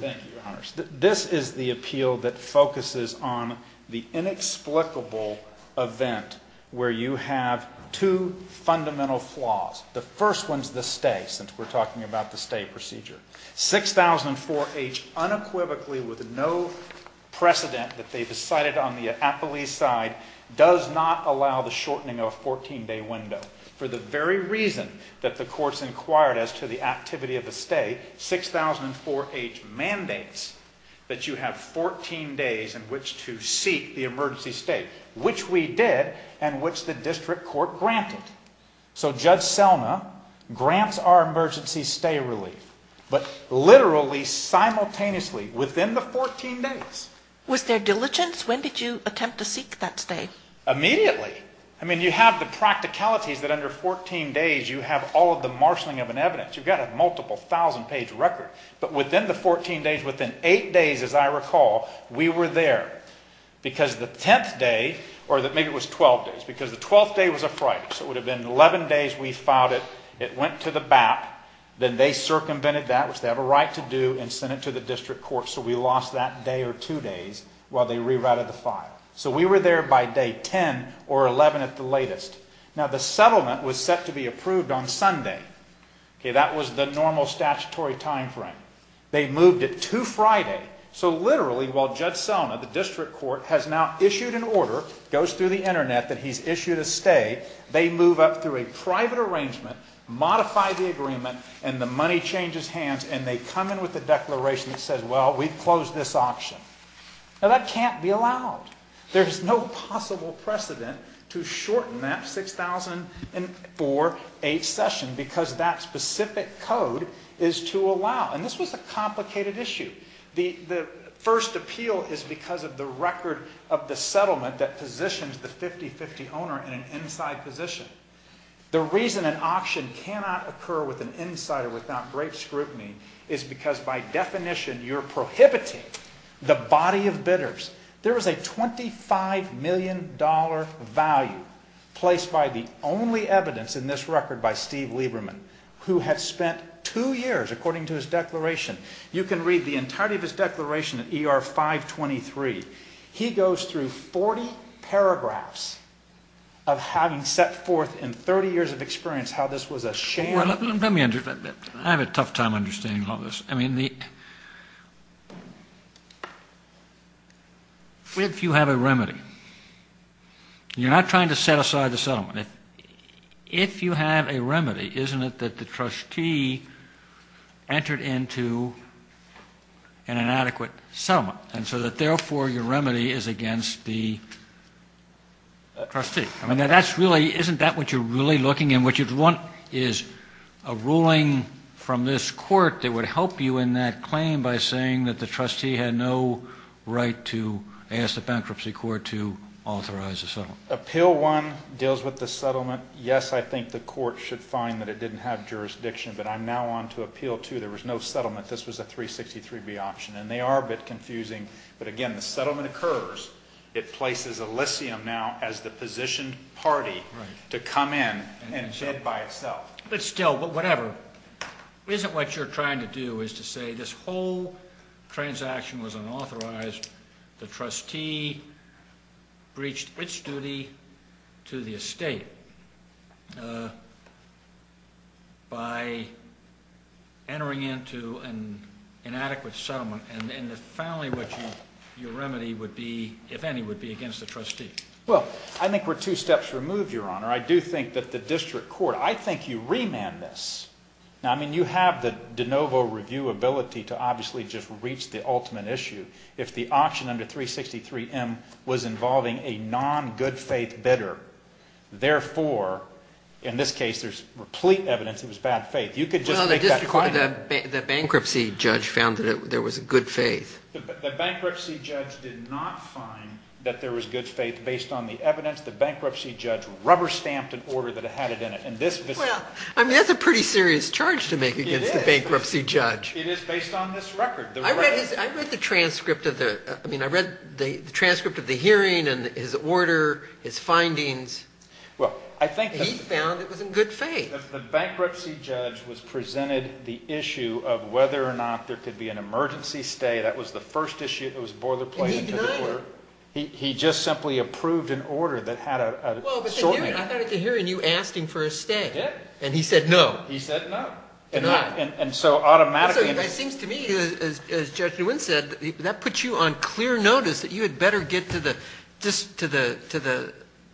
Thank you, Your Honors. This is the appeal that focuses on the inexplicable event where you have two fundamental flaws. The first one's the stay, since we're talking about the stay procedure. 6004H, unequivocally, with no precedent that they've decided on the appellee's side, does not allow the shortening of a 14-day window. For the very reason that the courts inquired as to the activity of a stay, 6004H mandates that you have 14 days in which to seek the emergency stay, which we did and which the district court granted. So Judge Selma grants our emergency stay relief, but literally, simultaneously, within the 14 days. Was there diligence? When did you attempt to seek that stay? Immediately. I mean, you have the practicalities that under 14 days you have all of the marshaling of an evidence. You've got a multiple thousand page record. But within the 14 days, within 8 days as I recall, we were there. Because the 10th day, or maybe it was 12 days, because the 12th day was a fright. So it would have been 11 days we filed it. It went to the BAP. Then they circumvented that, which they have a right to do, and sent it to the district court. So we lost that day or two days while they rewrited the file. So we were there by day 10 or 11 at the latest. Now the settlement was set to be approved on Sunday. That was the normal statutory time frame. They moved it to Friday. So literally, while Judge Selma, the district court, has now issued an order, goes through the internet that he's issued a stay, they move up through a private arrangement, modify the agreement, and the money changes hands, and they come in with a declaration that says, well, we've closed this auction. Now that can't be allowed. There's no possible precedent to shorten that 6004H session because that specific code is to allow. And this was a complicated issue. The first appeal is because of the record of the settlement that positions the 50-50 owner in an inside position. The reason an auction cannot occur with an insider without great scrutiny is because by definition you're prohibiting the body of bidders. There is a $25 million value placed by the only evidence in this record by Steve Lieberman, who had spent two years, according to his declaration. You can read the entirety of his declaration at ER 523. He goes through 40 paragraphs of having set forth in 30 years of experience how this was a sham. I have a tough time understanding all this. I mean, if you have a remedy, you're not trying to set aside the settlement. If you have a remedy, isn't it that the trustee entered into an inadequate settlement, and so that therefore your remedy is against the trustee? I mean, isn't that what you're really looking at? What you want is a ruling from this court that would help you in that claim by saying that the trustee had no right to ask the bankruptcy court to authorize the settlement. Appeal 1 deals with the settlement. Yes, I think the court should find that it didn't have jurisdiction, but I'm now on to appeal 2. There was no settlement. This was a 363B option, and they are a bit confusing. But again, the settlement occurs. It places Elysium now as the position party to come in and bid by itself. But still, whatever, isn't what you're trying to do is to say this whole transaction was unauthorized. The trustee breached its duty to the estate by entering into an inadequate settlement, and finally what your remedy would be, if any, would be against the trustee. Well, I think we're two steps removed, Your Honor. I do think that the district court, I think you remand this. Now, I mean, you have the de novo review ability to obviously just reach the ultimate issue. If the option under 363M was involving a non-good faith bidder, therefore, in this case there's replete evidence it was bad faith. You could just make that claim. The bankruptcy judge found that there was a good faith. The bankruptcy judge did not find that there was good faith based on the evidence. The bankruptcy judge rubber-stamped an order that had it in it. Well, I mean, that's a pretty serious charge to make against the bankruptcy judge. It is based on this record. I read the transcript of the hearing and his order, his findings. He found it was in good faith. The bankruptcy judge was presented the issue of whether or not there could be an emergency stay. That was the first issue that was boiler-plated to the court. And he denied it. He just simply approved an order that had a shortening. Well, but I thought at the hearing you asked him for a stay. I did. And he said no. He said no. And so automatically. So it seems to me, as Judge Nguyen said, that puts you on clear notice that you had better get to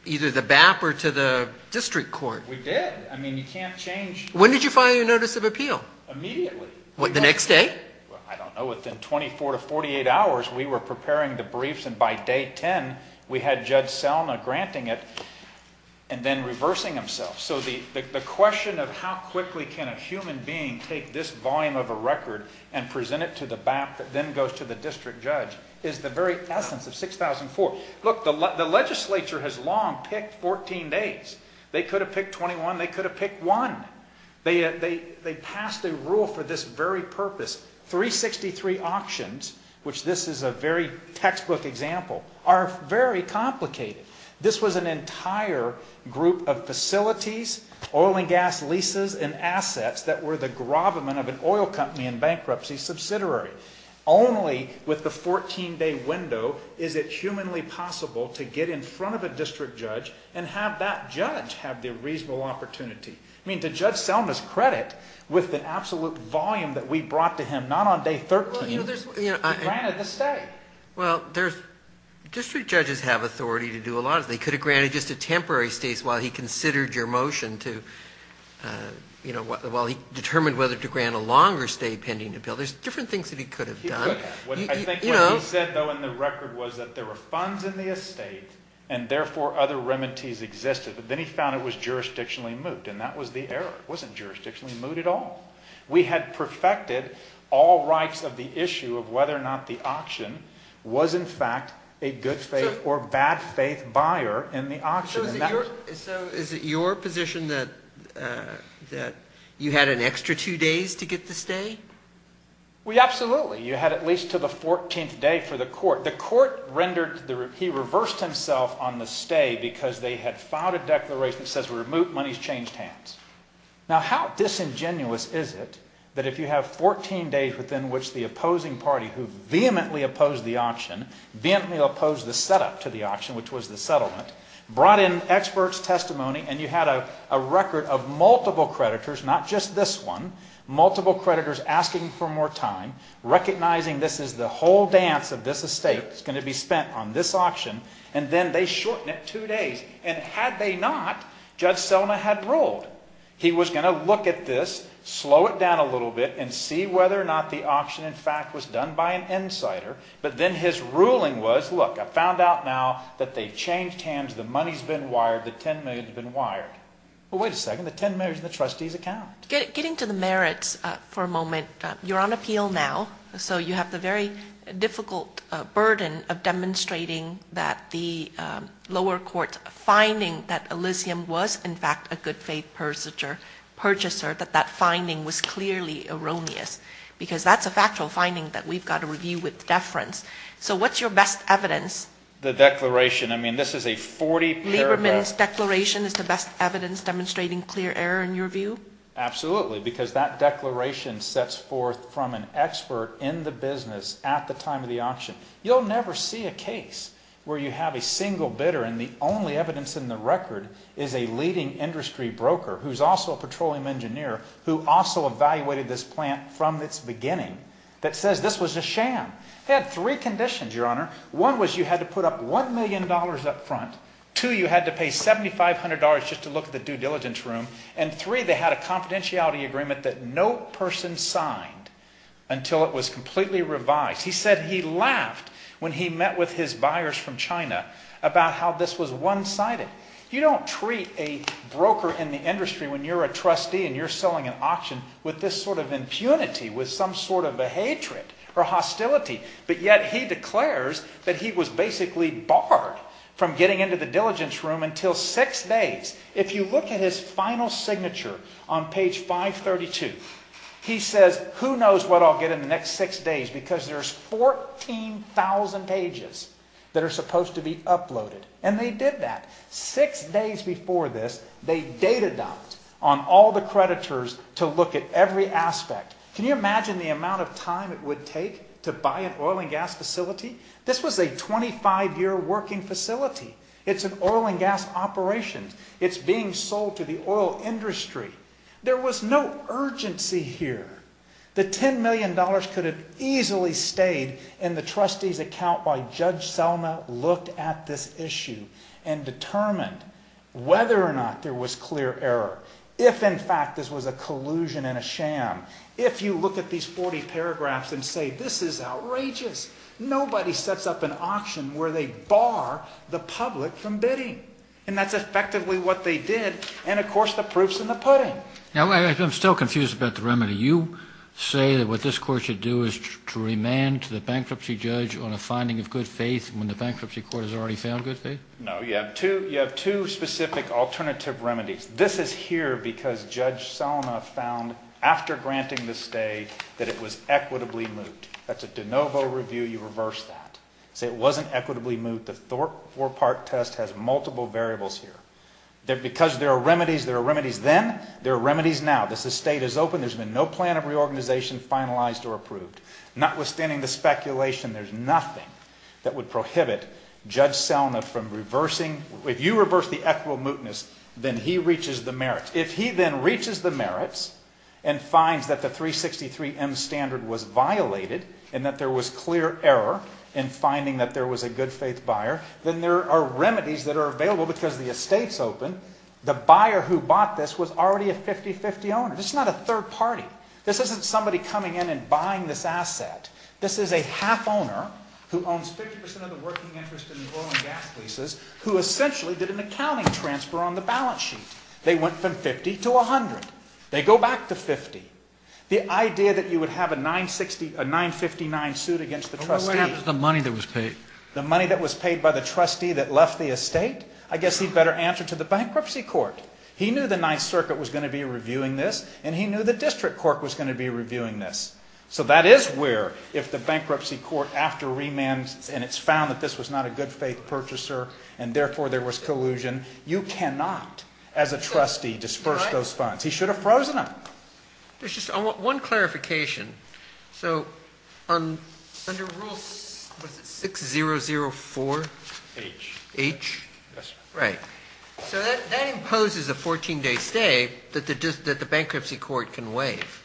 either the BAP or to the district court. We did. I mean, you can't change. When did you file your notice of appeal? Immediately. The next day? I don't know. Within 24 to 48 hours we were preparing the briefs, and by day 10 we had Judge Selma granting it and then reversing himself. So the question of how quickly can a human being take this volume of a record and present it to the BAP that then goes to the district judge is the very essence of 6004. Look, the legislature has long picked 14 days. They could have picked 21. They could have picked one. They passed a rule for this very purpose. 363 auctions, which this is a very textbook example, are very complicated. This was an entire group of facilities, oil and gas leases, and assets that were the gravamen of an oil company and bankruptcy subsidiary. Only with the 14-day window is it humanly possible to get in front of a district judge and have that judge have the reasonable opportunity. I mean, to Judge Selma's credit, with the absolute volume that we brought to him not on day 13, he granted the stay. Well, district judges have authority to do a lot of things. He could have granted just a temporary stay while he considered your motion to, you know, while he determined whether to grant a longer stay pending the bill. There's different things that he could have done. He could have. I think what he said, though, in the record was that there were funds in the estate and, therefore, other remedies existed. But then he found it was jurisdictionally moot, and that was the error. It wasn't jurisdictionally moot at all. We had perfected all rights of the issue of whether or not the auction was, in fact, a good-faith or bad-faith buyer in the auction. So is it your position that you had an extra two days to get the stay? Well, absolutely. You had at least to the 14th day for the court. The court rendered the – he reversed himself on the stay because they had filed a declaration that says, remove monies, change hands. Now, how disingenuous is it that if you have 14 days within which the opposing party who vehemently opposed the auction, vehemently opposed the setup to the auction, which was the settlement, brought in expert's testimony and you had a record of multiple creditors, not just this one, multiple creditors asking for more time, recognizing this is the whole dance of this estate, it's going to be spent on this auction, and then they shorten it two days. And had they not, Judge Selna had ruled. He was going to look at this, slow it down a little bit, and see whether or not the auction, in fact, was done by an insider. But then his ruling was, look, I found out now that they changed hands. The money's been wired. The $10 million's been wired. Well, wait a second. The $10 million's in the trustee's account. Getting to the merits for a moment, you're on appeal now. So you have the very difficult burden of demonstrating that the lower court's finding that Elysium was, in fact, a good faith purchaser, that that finding was clearly erroneous, because that's a factual finding that we've got to review with deference. So what's your best evidence? The declaration. I mean, this is a 40-paragraph. Lieberman's declaration is the best evidence demonstrating clear error in your view? Absolutely, because that declaration sets forth from an expert in the business at the time of the auction. You'll never see a case where you have a single bidder and the only evidence in the record is a leading industry broker who's also a petroleum engineer who also evaluated this plant from its beginning that says this was a sham. They had three conditions, Your Honor. One was you had to put up $1 million up front. Two, you had to pay $7,500 just to look at the due diligence room. And three, they had a confidentiality agreement that no person signed until it was completely revised. He said he laughed when he met with his buyers from China about how this was one-sided. You don't treat a broker in the industry when you're a trustee and you're selling an auction with this sort of impunity, with some sort of a hatred or hostility. But yet he declares that he was basically barred from getting into the diligence room until six days. If you look at his final signature on page 532, he says who knows what I'll get in the next six days because there's 14,000 pages that are supposed to be uploaded. And they did that. Six days before this, they data-dumped on all the creditors to look at every aspect. Can you imagine the amount of time it would take to buy an oil and gas facility? This was a 25-year working facility. It's an oil and gas operation. It's being sold to the oil industry. There was no urgency here. The $10 million could have easily stayed in the trustee's account while Judge Selma looked at this issue and determined whether or not there was clear error. If, in fact, this was a collusion and a sham. If you look at these 40 paragraphs and say this is outrageous. Nobody sets up an auction where they bar the public from bidding. And that's effectively what they did. And, of course, the proof's in the pudding. Now, I'm still confused about the remedy. You say that what this court should do is to remand to the bankruptcy judge on a finding of good faith when the bankruptcy court has already found good faith? No, you have two specific alternative remedies. This is here because Judge Selma found after granting the stay that it was equitably moot. That's a de novo review. You reverse that. Say it wasn't equitably moot. The four-part test has multiple variables here. Because there are remedies, there are remedies then, there are remedies now. This estate is open. There's been no plan of reorganization finalized or approved. Notwithstanding the speculation, there's nothing that would prohibit Judge Selma from reversing. If you reverse the equitably mootness, then he reaches the merits. And finds that the 363M standard was violated and that there was clear error in finding that there was a good faith buyer. Then there are remedies that are available because the estate's open. The buyer who bought this was already a 50-50 owner. This is not a third party. This isn't somebody coming in and buying this asset. This is a half owner who owns 50% of the working interest in the oil and gas leases who essentially did an accounting transfer on the balance sheet. They went from 50 to 100. They go back to 50. The idea that you would have a 959 suit against the trustee. What would happen to the money that was paid? The money that was paid by the trustee that left the estate? I guess he'd better answer to the bankruptcy court. He knew the 9th Circuit was going to be reviewing this and he knew the district court was going to be reviewing this. So that is where if the bankruptcy court after remand and it's found that this was not a good faith purchaser and therefore there was collusion, you cannot as a trustee disperse those funds. He should have frozen them. There's just one clarification. So under Rule 6004H, that imposes a 14-day stay that the bankruptcy court can waive.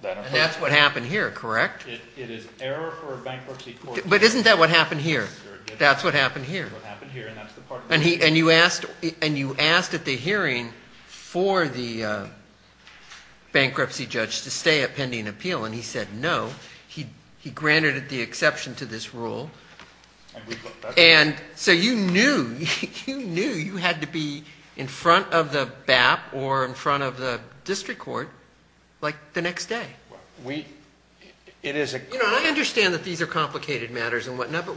That's what happened here, correct? It is error for a bankruptcy court. But isn't that what happened here? That's what happened here. That's what happened here. And you asked at the hearing for the bankruptcy judge to stay at pending appeal and he said no. He granted the exception to this rule. And so you knew you had to be in front of the BAP or in front of the district court like the next day. I understand that these are complicated matters and whatnot, but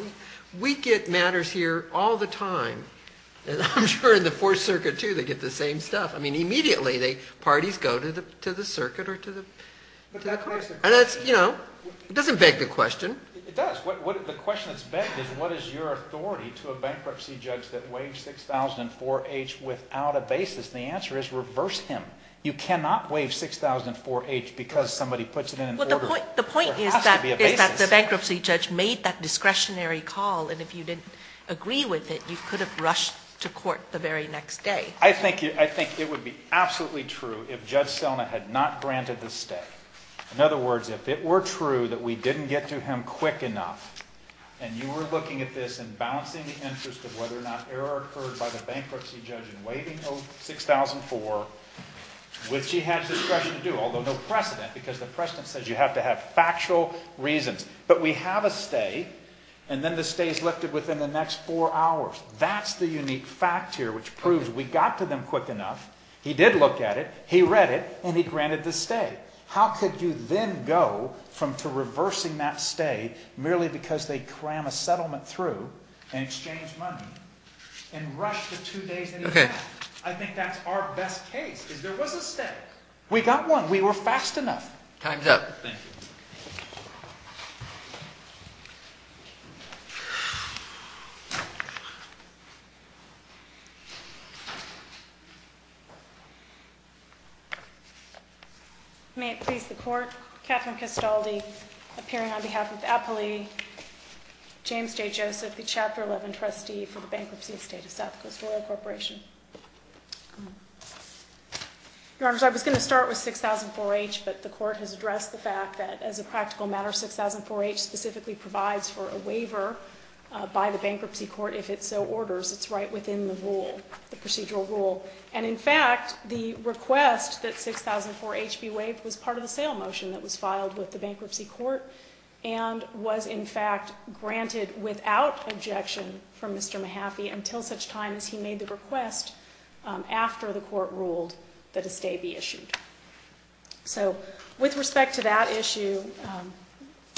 we get matters here all the time. And I'm sure in the 4th Circuit too they get the same stuff. I mean immediately parties go to the circuit or to the court. It doesn't beg the question. It does. The question that's begged is what is your authority to a bankruptcy judge that waived 6004H without a basis? And the answer is reverse him. You cannot waive 6004H because somebody puts it in an order. The point is that the bankruptcy judge made that discretionary call. And if you didn't agree with it, you could have rushed to court the very next day. I think it would be absolutely true if Judge Selna had not granted the stay. In other words, if it were true that we didn't get to him quick enough, and you were looking at this and balancing the interest of whether or not error occurred by the bankruptcy judge in waiving 6004H, which he had discretion to do, although no precedent, because the precedent says you have to have factual reasons. But we have a stay, and then the stay is lifted within the next 4 hours. That's the unique fact here which proves we got to them quick enough. He did look at it. He read it, and he granted the stay. How could you then go from reversing that stay merely because they crammed a settlement through and exchanged money and rushed the 2 days that he had? I think that's our best case, is there was a stay. We got one. We were fast enough. Time's up. Thank you. May it please the Court. Catherine Castaldi, appearing on behalf of the appellee. James J. Joseph, the Chapter 11 trustee for the bankruptcy estate of South Coast Royal Corporation. Your Honors, I was going to start with 6004H, but the Court has addressed the fact that as a practical matter, 6004H specifically provides for a waiver by the bankruptcy court if it so orders. It's right within the rule, the procedural rule. And in fact, the request that 6004H be waived was part of the sale motion that was filed with the bankruptcy court and was in fact granted without objection from Mr. Mahaffey until such time as he made the request after the Court ruled that a stay be issued. So with respect to that issue,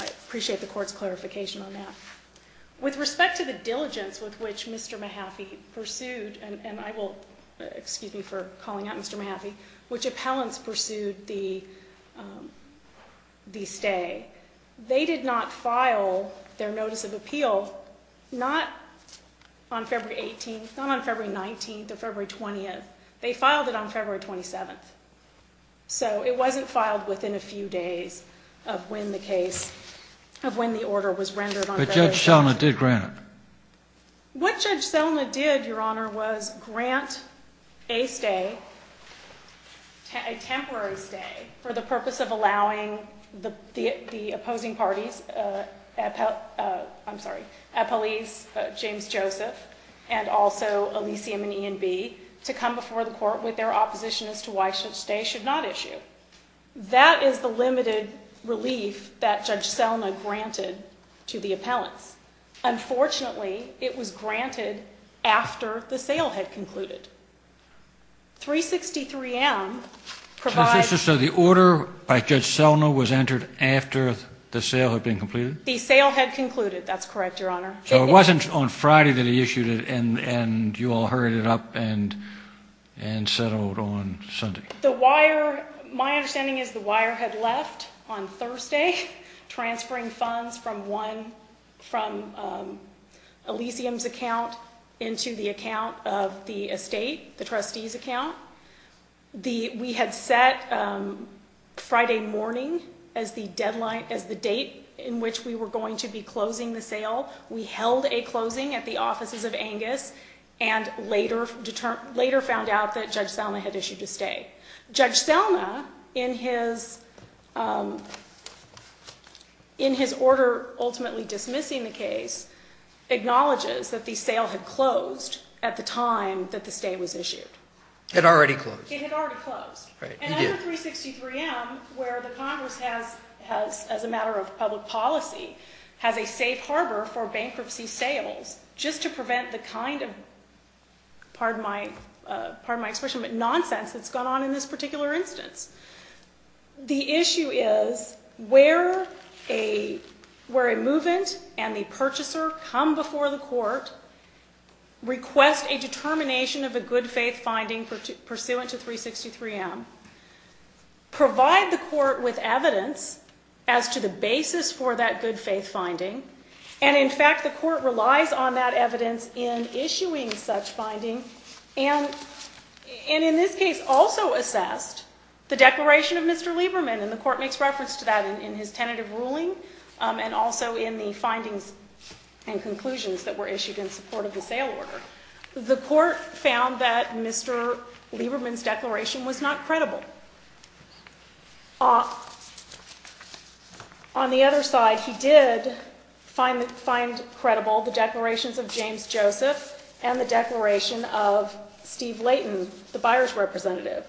I appreciate the Court's clarification on that. With respect to the diligence with which Mr. Mahaffey pursued, and I will excuse me for calling out Mr. Mahaffey, which appellants pursued the stay, they did not file their notice of appeal not on February 18th, not on February 19th or February 20th. They filed it on February 27th. So it wasn't filed within a few days of when the case, of when the order was rendered on February 17th. But Judge Selna did grant it. What Judge Selna did, Your Honor, was grant a stay, a temporary stay, for the purpose of allowing the opposing parties, appellees James Joseph and also Elysium and E&B, to come before the Court with their opposition as to why such a stay should not issue. That is the limited relief that Judge Selna granted to the appellants. Unfortunately, it was granted after the sale had concluded. 363M provides... So the order by Judge Selna was entered after the sale had been completed? The sale had concluded. That's correct, Your Honor. So it wasn't on Friday that he issued it and you all hurried it up and settled on Sunday. The wire, my understanding is the wire had left on Thursday, transferring funds from Elysium's account into the account of the estate, the trustee's account. We had set Friday morning as the deadline, as the date in which we were going to be closing the sale. We held a closing at the offices of Angus and later found out that Judge Selna had issued a stay. Judge Selna, in his order ultimately dismissing the case, acknowledges that the sale had closed at the time that the stay was issued. It had already closed. It had already closed. And under 363M, where the Congress has, as a matter of public policy, has a safe harbor for bankruptcy sales, just to prevent the kind of nonsense that's gone on in this particular instance. The issue is where a move-in and the purchaser come before the court, request a determination of a good faith finding pursuant to 363M, provide the court with evidence as to the basis for that good faith finding, and, in fact, the court relies on that evidence in issuing such finding, and in this case also assessed the declaration of Mr. Lieberman, and the court makes reference to that in his tentative ruling and also in the findings and conclusions that were issued in support of the sale order. The court found that Mr. Lieberman's declaration was not credible. On the other side, he did find credible the declarations of James Joseph and the declaration of Steve Layton, the buyer's representative,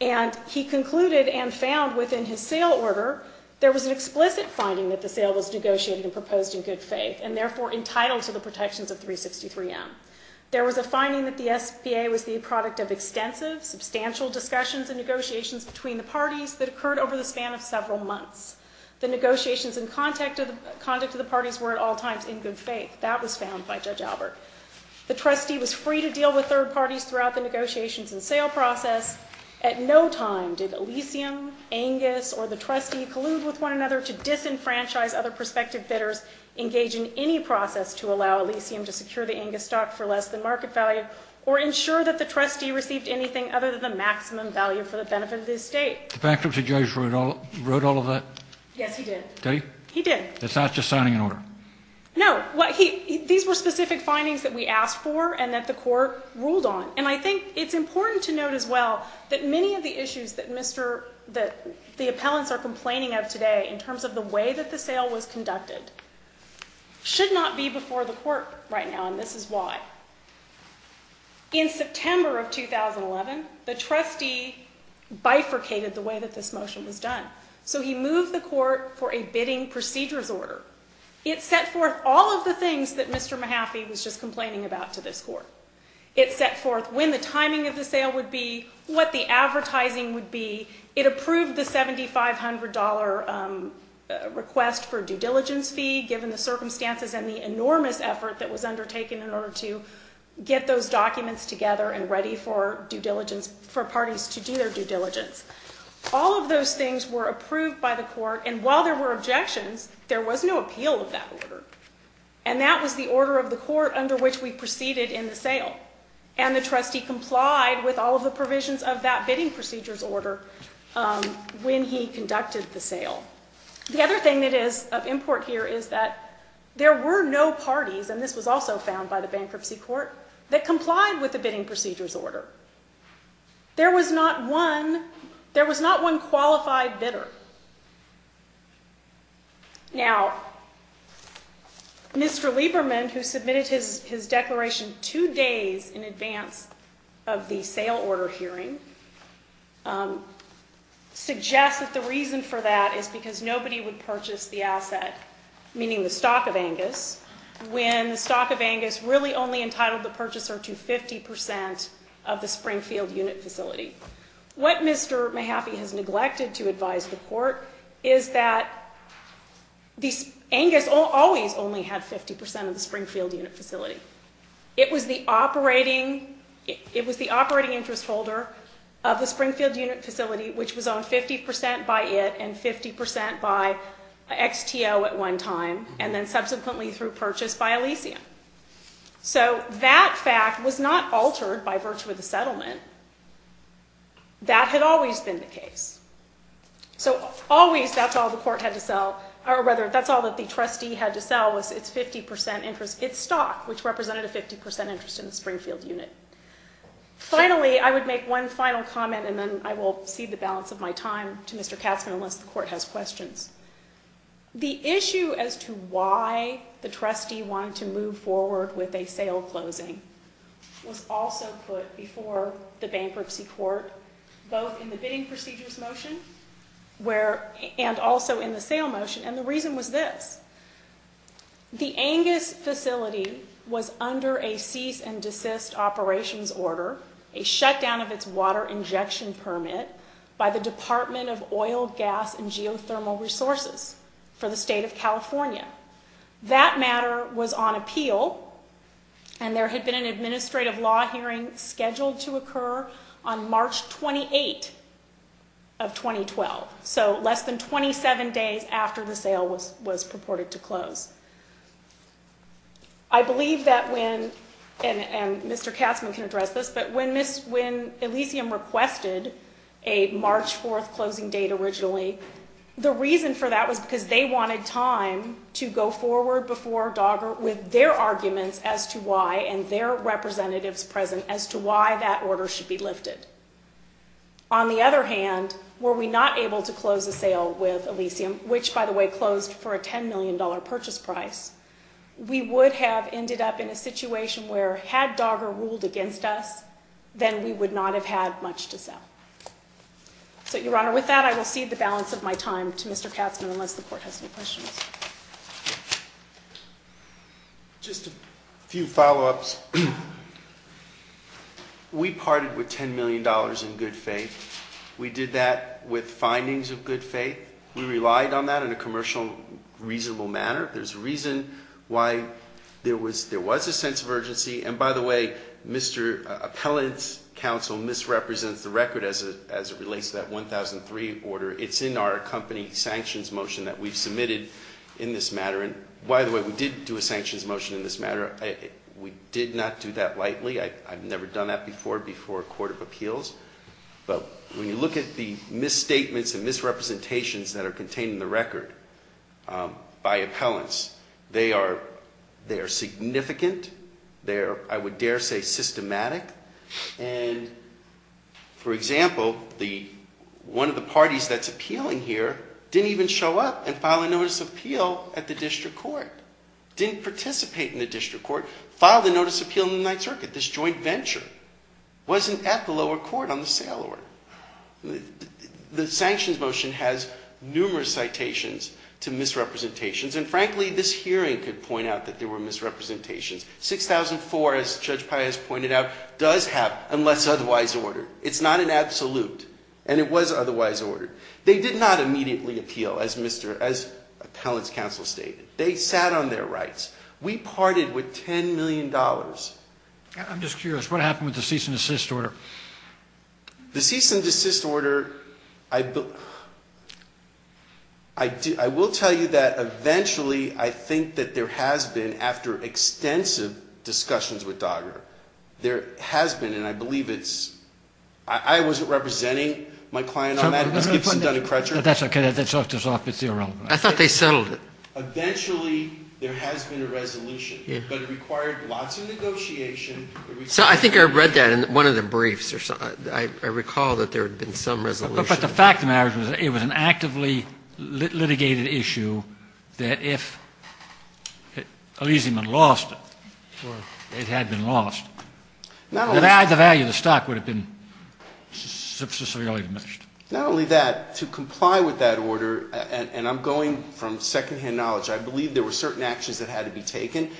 and he concluded and found within his sale order there was an explicit finding that the sale was negotiated and proposed in good faith and therefore entitled to the protections of 363M. There was a finding that the SBA was the product of extensive, substantial discussions and negotiations between the parties that occurred over the span of several months. The negotiations and conduct of the parties were at all times in good faith. That was found by Judge Albert. The trustee was free to deal with third parties throughout the negotiations and sale process. At no time did Elysium, Angus, or the trustee collude with one another to disenfranchise other prospective bidders, engage in any process to allow Elysium to secure the Angus stock for less than market value, or ensure that the trustee received anything other than the maximum value for the benefit of the estate. The bankruptcy judge wrote all of that? Yes, he did. Did he? He did. It's not just signing an order? No. These were specific findings that we asked for and that the court ruled on. And I think it's important to note as well that many of the issues that the appellants are complaining of today in terms of the way that the sale was conducted should not be before the court right now, and this is why. In September of 2011, the trustee bifurcated the way that this motion was done. So he moved the court for a bidding procedures order. It set forth all of the things that Mr. Mahaffey was just complaining about to this court. It set forth when the timing of the sale would be, what the advertising would be. It approved the $7,500 request for due diligence fee, given the circumstances and the enormous effort that was undertaken in order to get those documents together and ready for parties to do their due diligence. All of those things were approved by the court, and while there were objections, there was no appeal of that order. And that was the order of the court under which we proceeded in the sale. And the trustee complied with all of the provisions of that bidding procedures order when he conducted the sale. The other thing that is of import here is that there were no parties, and this was also found by the bankruptcy court, that complied with the bidding procedures order. There was not one qualified bidder. Now, Mr. Lieberman, who submitted his declaration two days in advance of the sale order hearing, suggests that the reason for that is because nobody would purchase the asset, meaning the stock of Angus, when the stock of Angus really only entitled the purchaser to 50% of the Springfield unit facility. What Mr. Mahaffey has neglected to advise the court is that Angus always only had 50% of the Springfield unit facility. It was the operating interest holder of the Springfield unit facility, which was owned 50% by it and 50% by XTO at one time, and then subsequently through purchase by Elysium. So that fact was not altered by virtue of the settlement. That had always been the case. So always, that's all the court had to sell, or rather, that's all that the trustee had to sell was its 50% interest, its stock, which represented a 50% interest in the Springfield unit. Finally, I would make one final comment, and then I will cede the balance of my time to Mr. Katzman, unless the court has questions. The issue as to why the trustee wanted to move forward with a sale closing was also put before the bankruptcy court, both in the bidding procedures motion and also in the sale motion, and the reason was this. The Angus facility was under a cease and desist operations order, a shutdown of its water injection permit by the Department of Oil, Gas, and Geothermal Resources for the state of California. That matter was on appeal, and there had been an administrative law hearing scheduled to occur on March 28 of 2012, so less than 27 days after the sale was purported to close. I believe that when, and Mr. Katzman can address this, but when Elysium requested a March 4 closing date originally, the reason for that was because they wanted time to go forward before DOGGR with their arguments as to why, and their representatives present, as to why that order should be lifted. On the other hand, were we not able to close the sale with Elysium, which, by the way, closed for a $10 million purchase price, we would have ended up in a situation where, had DOGGR ruled against us, then we would not have had much to sell. So, Your Honor, with that, I will cede the balance of my time to Mr. Katzman, unless the Court has any questions. Just a few follow-ups. We parted with $10 million in good faith. We did that with findings of good faith. We relied on that in a commercial, reasonable manner. And, by the way, Mr. Appellant's counsel misrepresents the record as it relates to that 1003 order. It's in our company sanctions motion that we've submitted in this matter. And, by the way, we did do a sanctions motion in this matter. We did not do that lightly. I've never done that before before a court of appeals. But when you look at the misstatements and misrepresentations that are contained in the record by appellants, they are significant, they are, I would dare say, systematic. And, for example, one of the parties that's appealing here didn't even show up and file a notice of appeal at the district court. Didn't participate in the district court, filed a notice of appeal in the Ninth Circuit. This joint venture wasn't at the lower court on the sale order. The sanctions motion has numerous citations to misrepresentations. And, frankly, this hearing could point out that there were misrepresentations. 6004, as Judge Paez pointed out, does have unless otherwise ordered. It's not an absolute. And it was otherwise ordered. They did not immediately appeal, as Mr. Appellant's counsel stated. They sat on their rights. We parted with $10 million. I'm just curious. What happened with the cease and desist order? The cease and desist order, I will tell you that eventually I think that there has been, after extensive discussions with DOGGR, there has been, and I believe it's ‑‑ I wasn't representing my client on that. That's okay. I thought they settled it. Eventually there has been a resolution. But it required lots of negotiation. I think I read that in one of the briefs. I recall that there had been some resolution. But the fact of the matter is it was an actively litigated issue that if Elyseum had lost it, or it had been lost, the value of the stock would have been severely diminished. Not only that, to comply with that order, and I'm going from secondhand knowledge, I believe there were certain actions that had to be taken.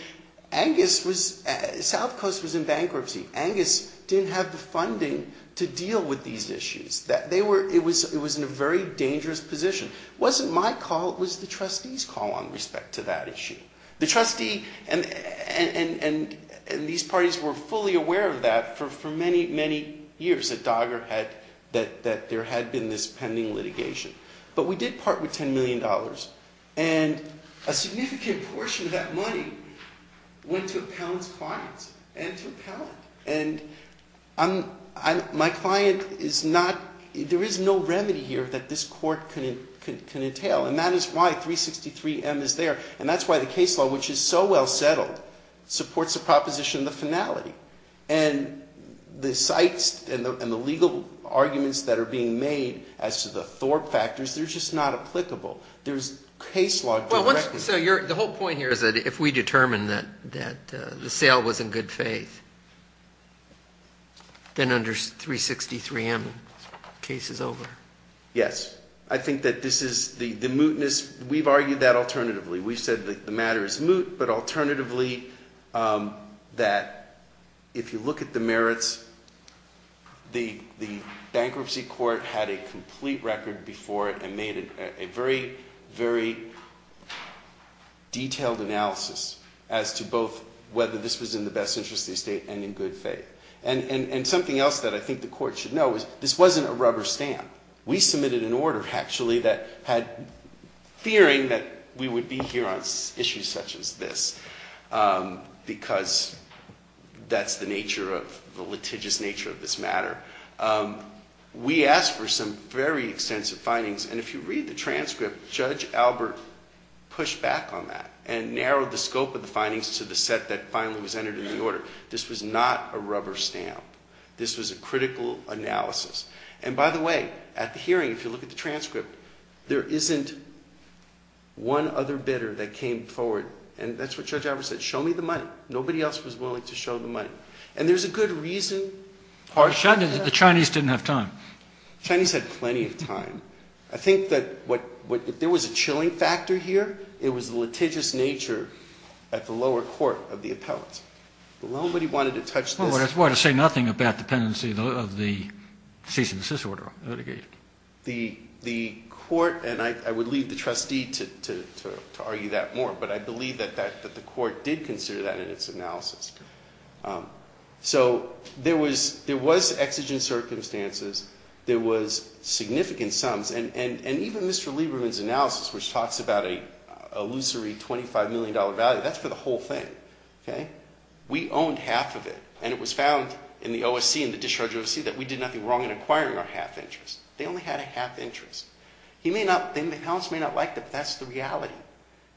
South Coast was in bankruptcy. Angus didn't have the funding to deal with these issues. It was in a very dangerous position. It wasn't my call. It was the trustee's call on respect to that issue. The trustee and these parties were fully aware of that for many, many years that DOGGR had, that there had been this pending litigation. But we did part with $10 million. And a significant portion of that money went to Appellant's clients and to Appellant. And my client is not – there is no remedy here that this court can entail. And that is why 363M is there. And that's why the case law, which is so well settled, supports the proposition of the finality. And the cites and the legal arguments that are being made as to the Thorpe factors, they're just not applicable. There's case law directly. So the whole point here is that if we determine that the sale was in good faith, then under 363M the case is over. Yes. I think that this is – the mootness – we've argued that alternatively. We've said that the matter is moot, but alternatively that if you look at the merits, the bankruptcy court had a complete record before it and made a very, very detailed analysis as to both whether this was in the best interest of the estate and in good faith. And something else that I think the court should know is this wasn't a rubber stamp. We submitted an order, actually, that had – fearing that we would be here on issues such as this because that's the nature of – the litigious nature of this matter. We asked for some very extensive findings. And if you read the transcript, Judge Albert pushed back on that and narrowed the scope of the findings to the set that finally was entered in the order. This was not a rubber stamp. This was a critical analysis. And by the way, at the hearing, if you look at the transcript, there isn't one other bidder that came forward. And that's what Judge Albert said, show me the money. Nobody else was willing to show the money. And there's a good reason. The Chinese didn't have time. The Chinese had plenty of time. I think that what – if there was a chilling factor here, it was the litigious nature at the lower court of the appellate. Nobody wanted to touch this. Well, it would say nothing about dependency of the cease and desist order litigation. The court – and I would leave the trustee to argue that more. But I believe that the court did consider that in its analysis. So there was exigent circumstances. There was significant sums. And even Mr. Lieberman's analysis, which talks about a illusory $25 million value, that's for the whole thing. We owned half of it. And it was found in the OSC, in the discharge OSC, that we did nothing wrong in acquiring our half interest. They only had a half interest. He may not – the appellants may not like that, but that's the reality.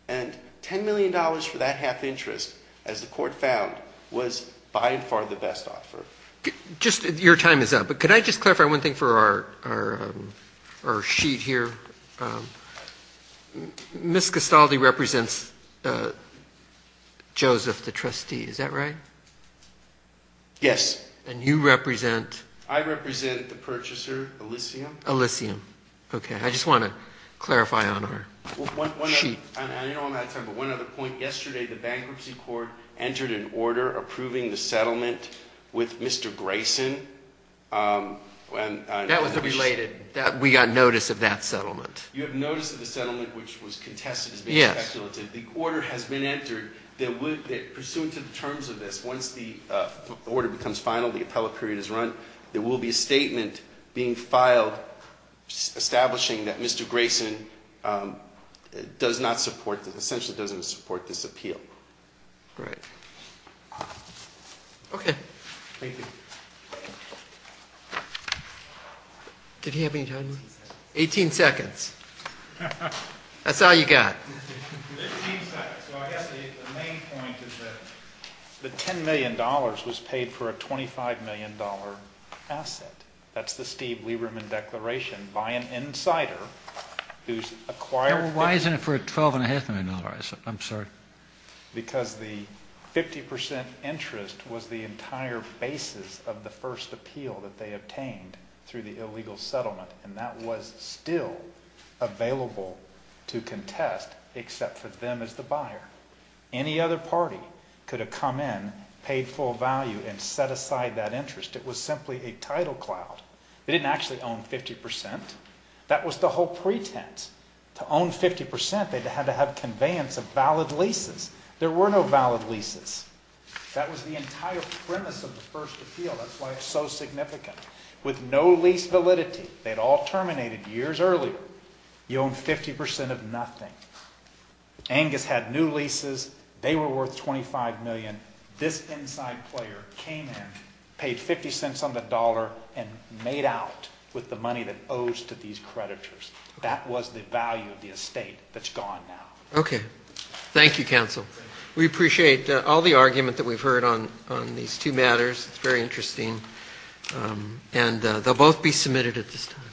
And $10 million for that half interest, as the court found, was by and far the best offer. Just – your time is up. But could I just clarify one thing for our sheet here? Ms. Castaldi represents Joseph, the trustee. Is that right? Yes. And you represent? I represent the purchaser, Elysium. Elysium. Okay. I just want to clarify on our sheet. I know I'm out of time, but one other point. Yesterday the bankruptcy court entered an order approving the settlement with Mr. Grayson. That was related. We got notice of that settlement. You have notice of the settlement, which was contested as being speculative. Yes. The order has been entered. Pursuant to the terms of this, once the order becomes final, the appellate period is run, there will be a statement being filed establishing that Mr. Grayson does not support – essentially doesn't support this appeal. Great. Okay. Thank you. Did he have any time? 18 seconds. 18 seconds. That's all you got. 15 seconds. So I guess the main point is that the $10 million was paid for a $25 million asset. That's the Steve Lieberman Declaration by an insider who's acquired – Why isn't it for a $12.5 million asset? I'm sorry. Because the 50% interest was the entire basis of the first appeal that they obtained through the illegal settlement, and that was still available to contest except for them as the buyer. Any other party could have come in, paid full value, and set aside that interest. It was simply a title cloud. They didn't actually own 50%. That was the whole pretense. To own 50%, they had to have conveyance of valid leases. There were no valid leases. That was the entire premise of the first appeal. That's why it's so significant. With no lease validity, they'd all terminated years earlier. You own 50% of nothing. Angus had new leases. They were worth $25 million. This inside player came in, paid $0.50 on the dollar, and made out with the money that owes to these creditors. That was the value of the estate that's gone now. Okay. Thank you, counsel. We appreciate all the argument that we've heard on these two matters. It's very interesting, and they'll both be submitted at this time.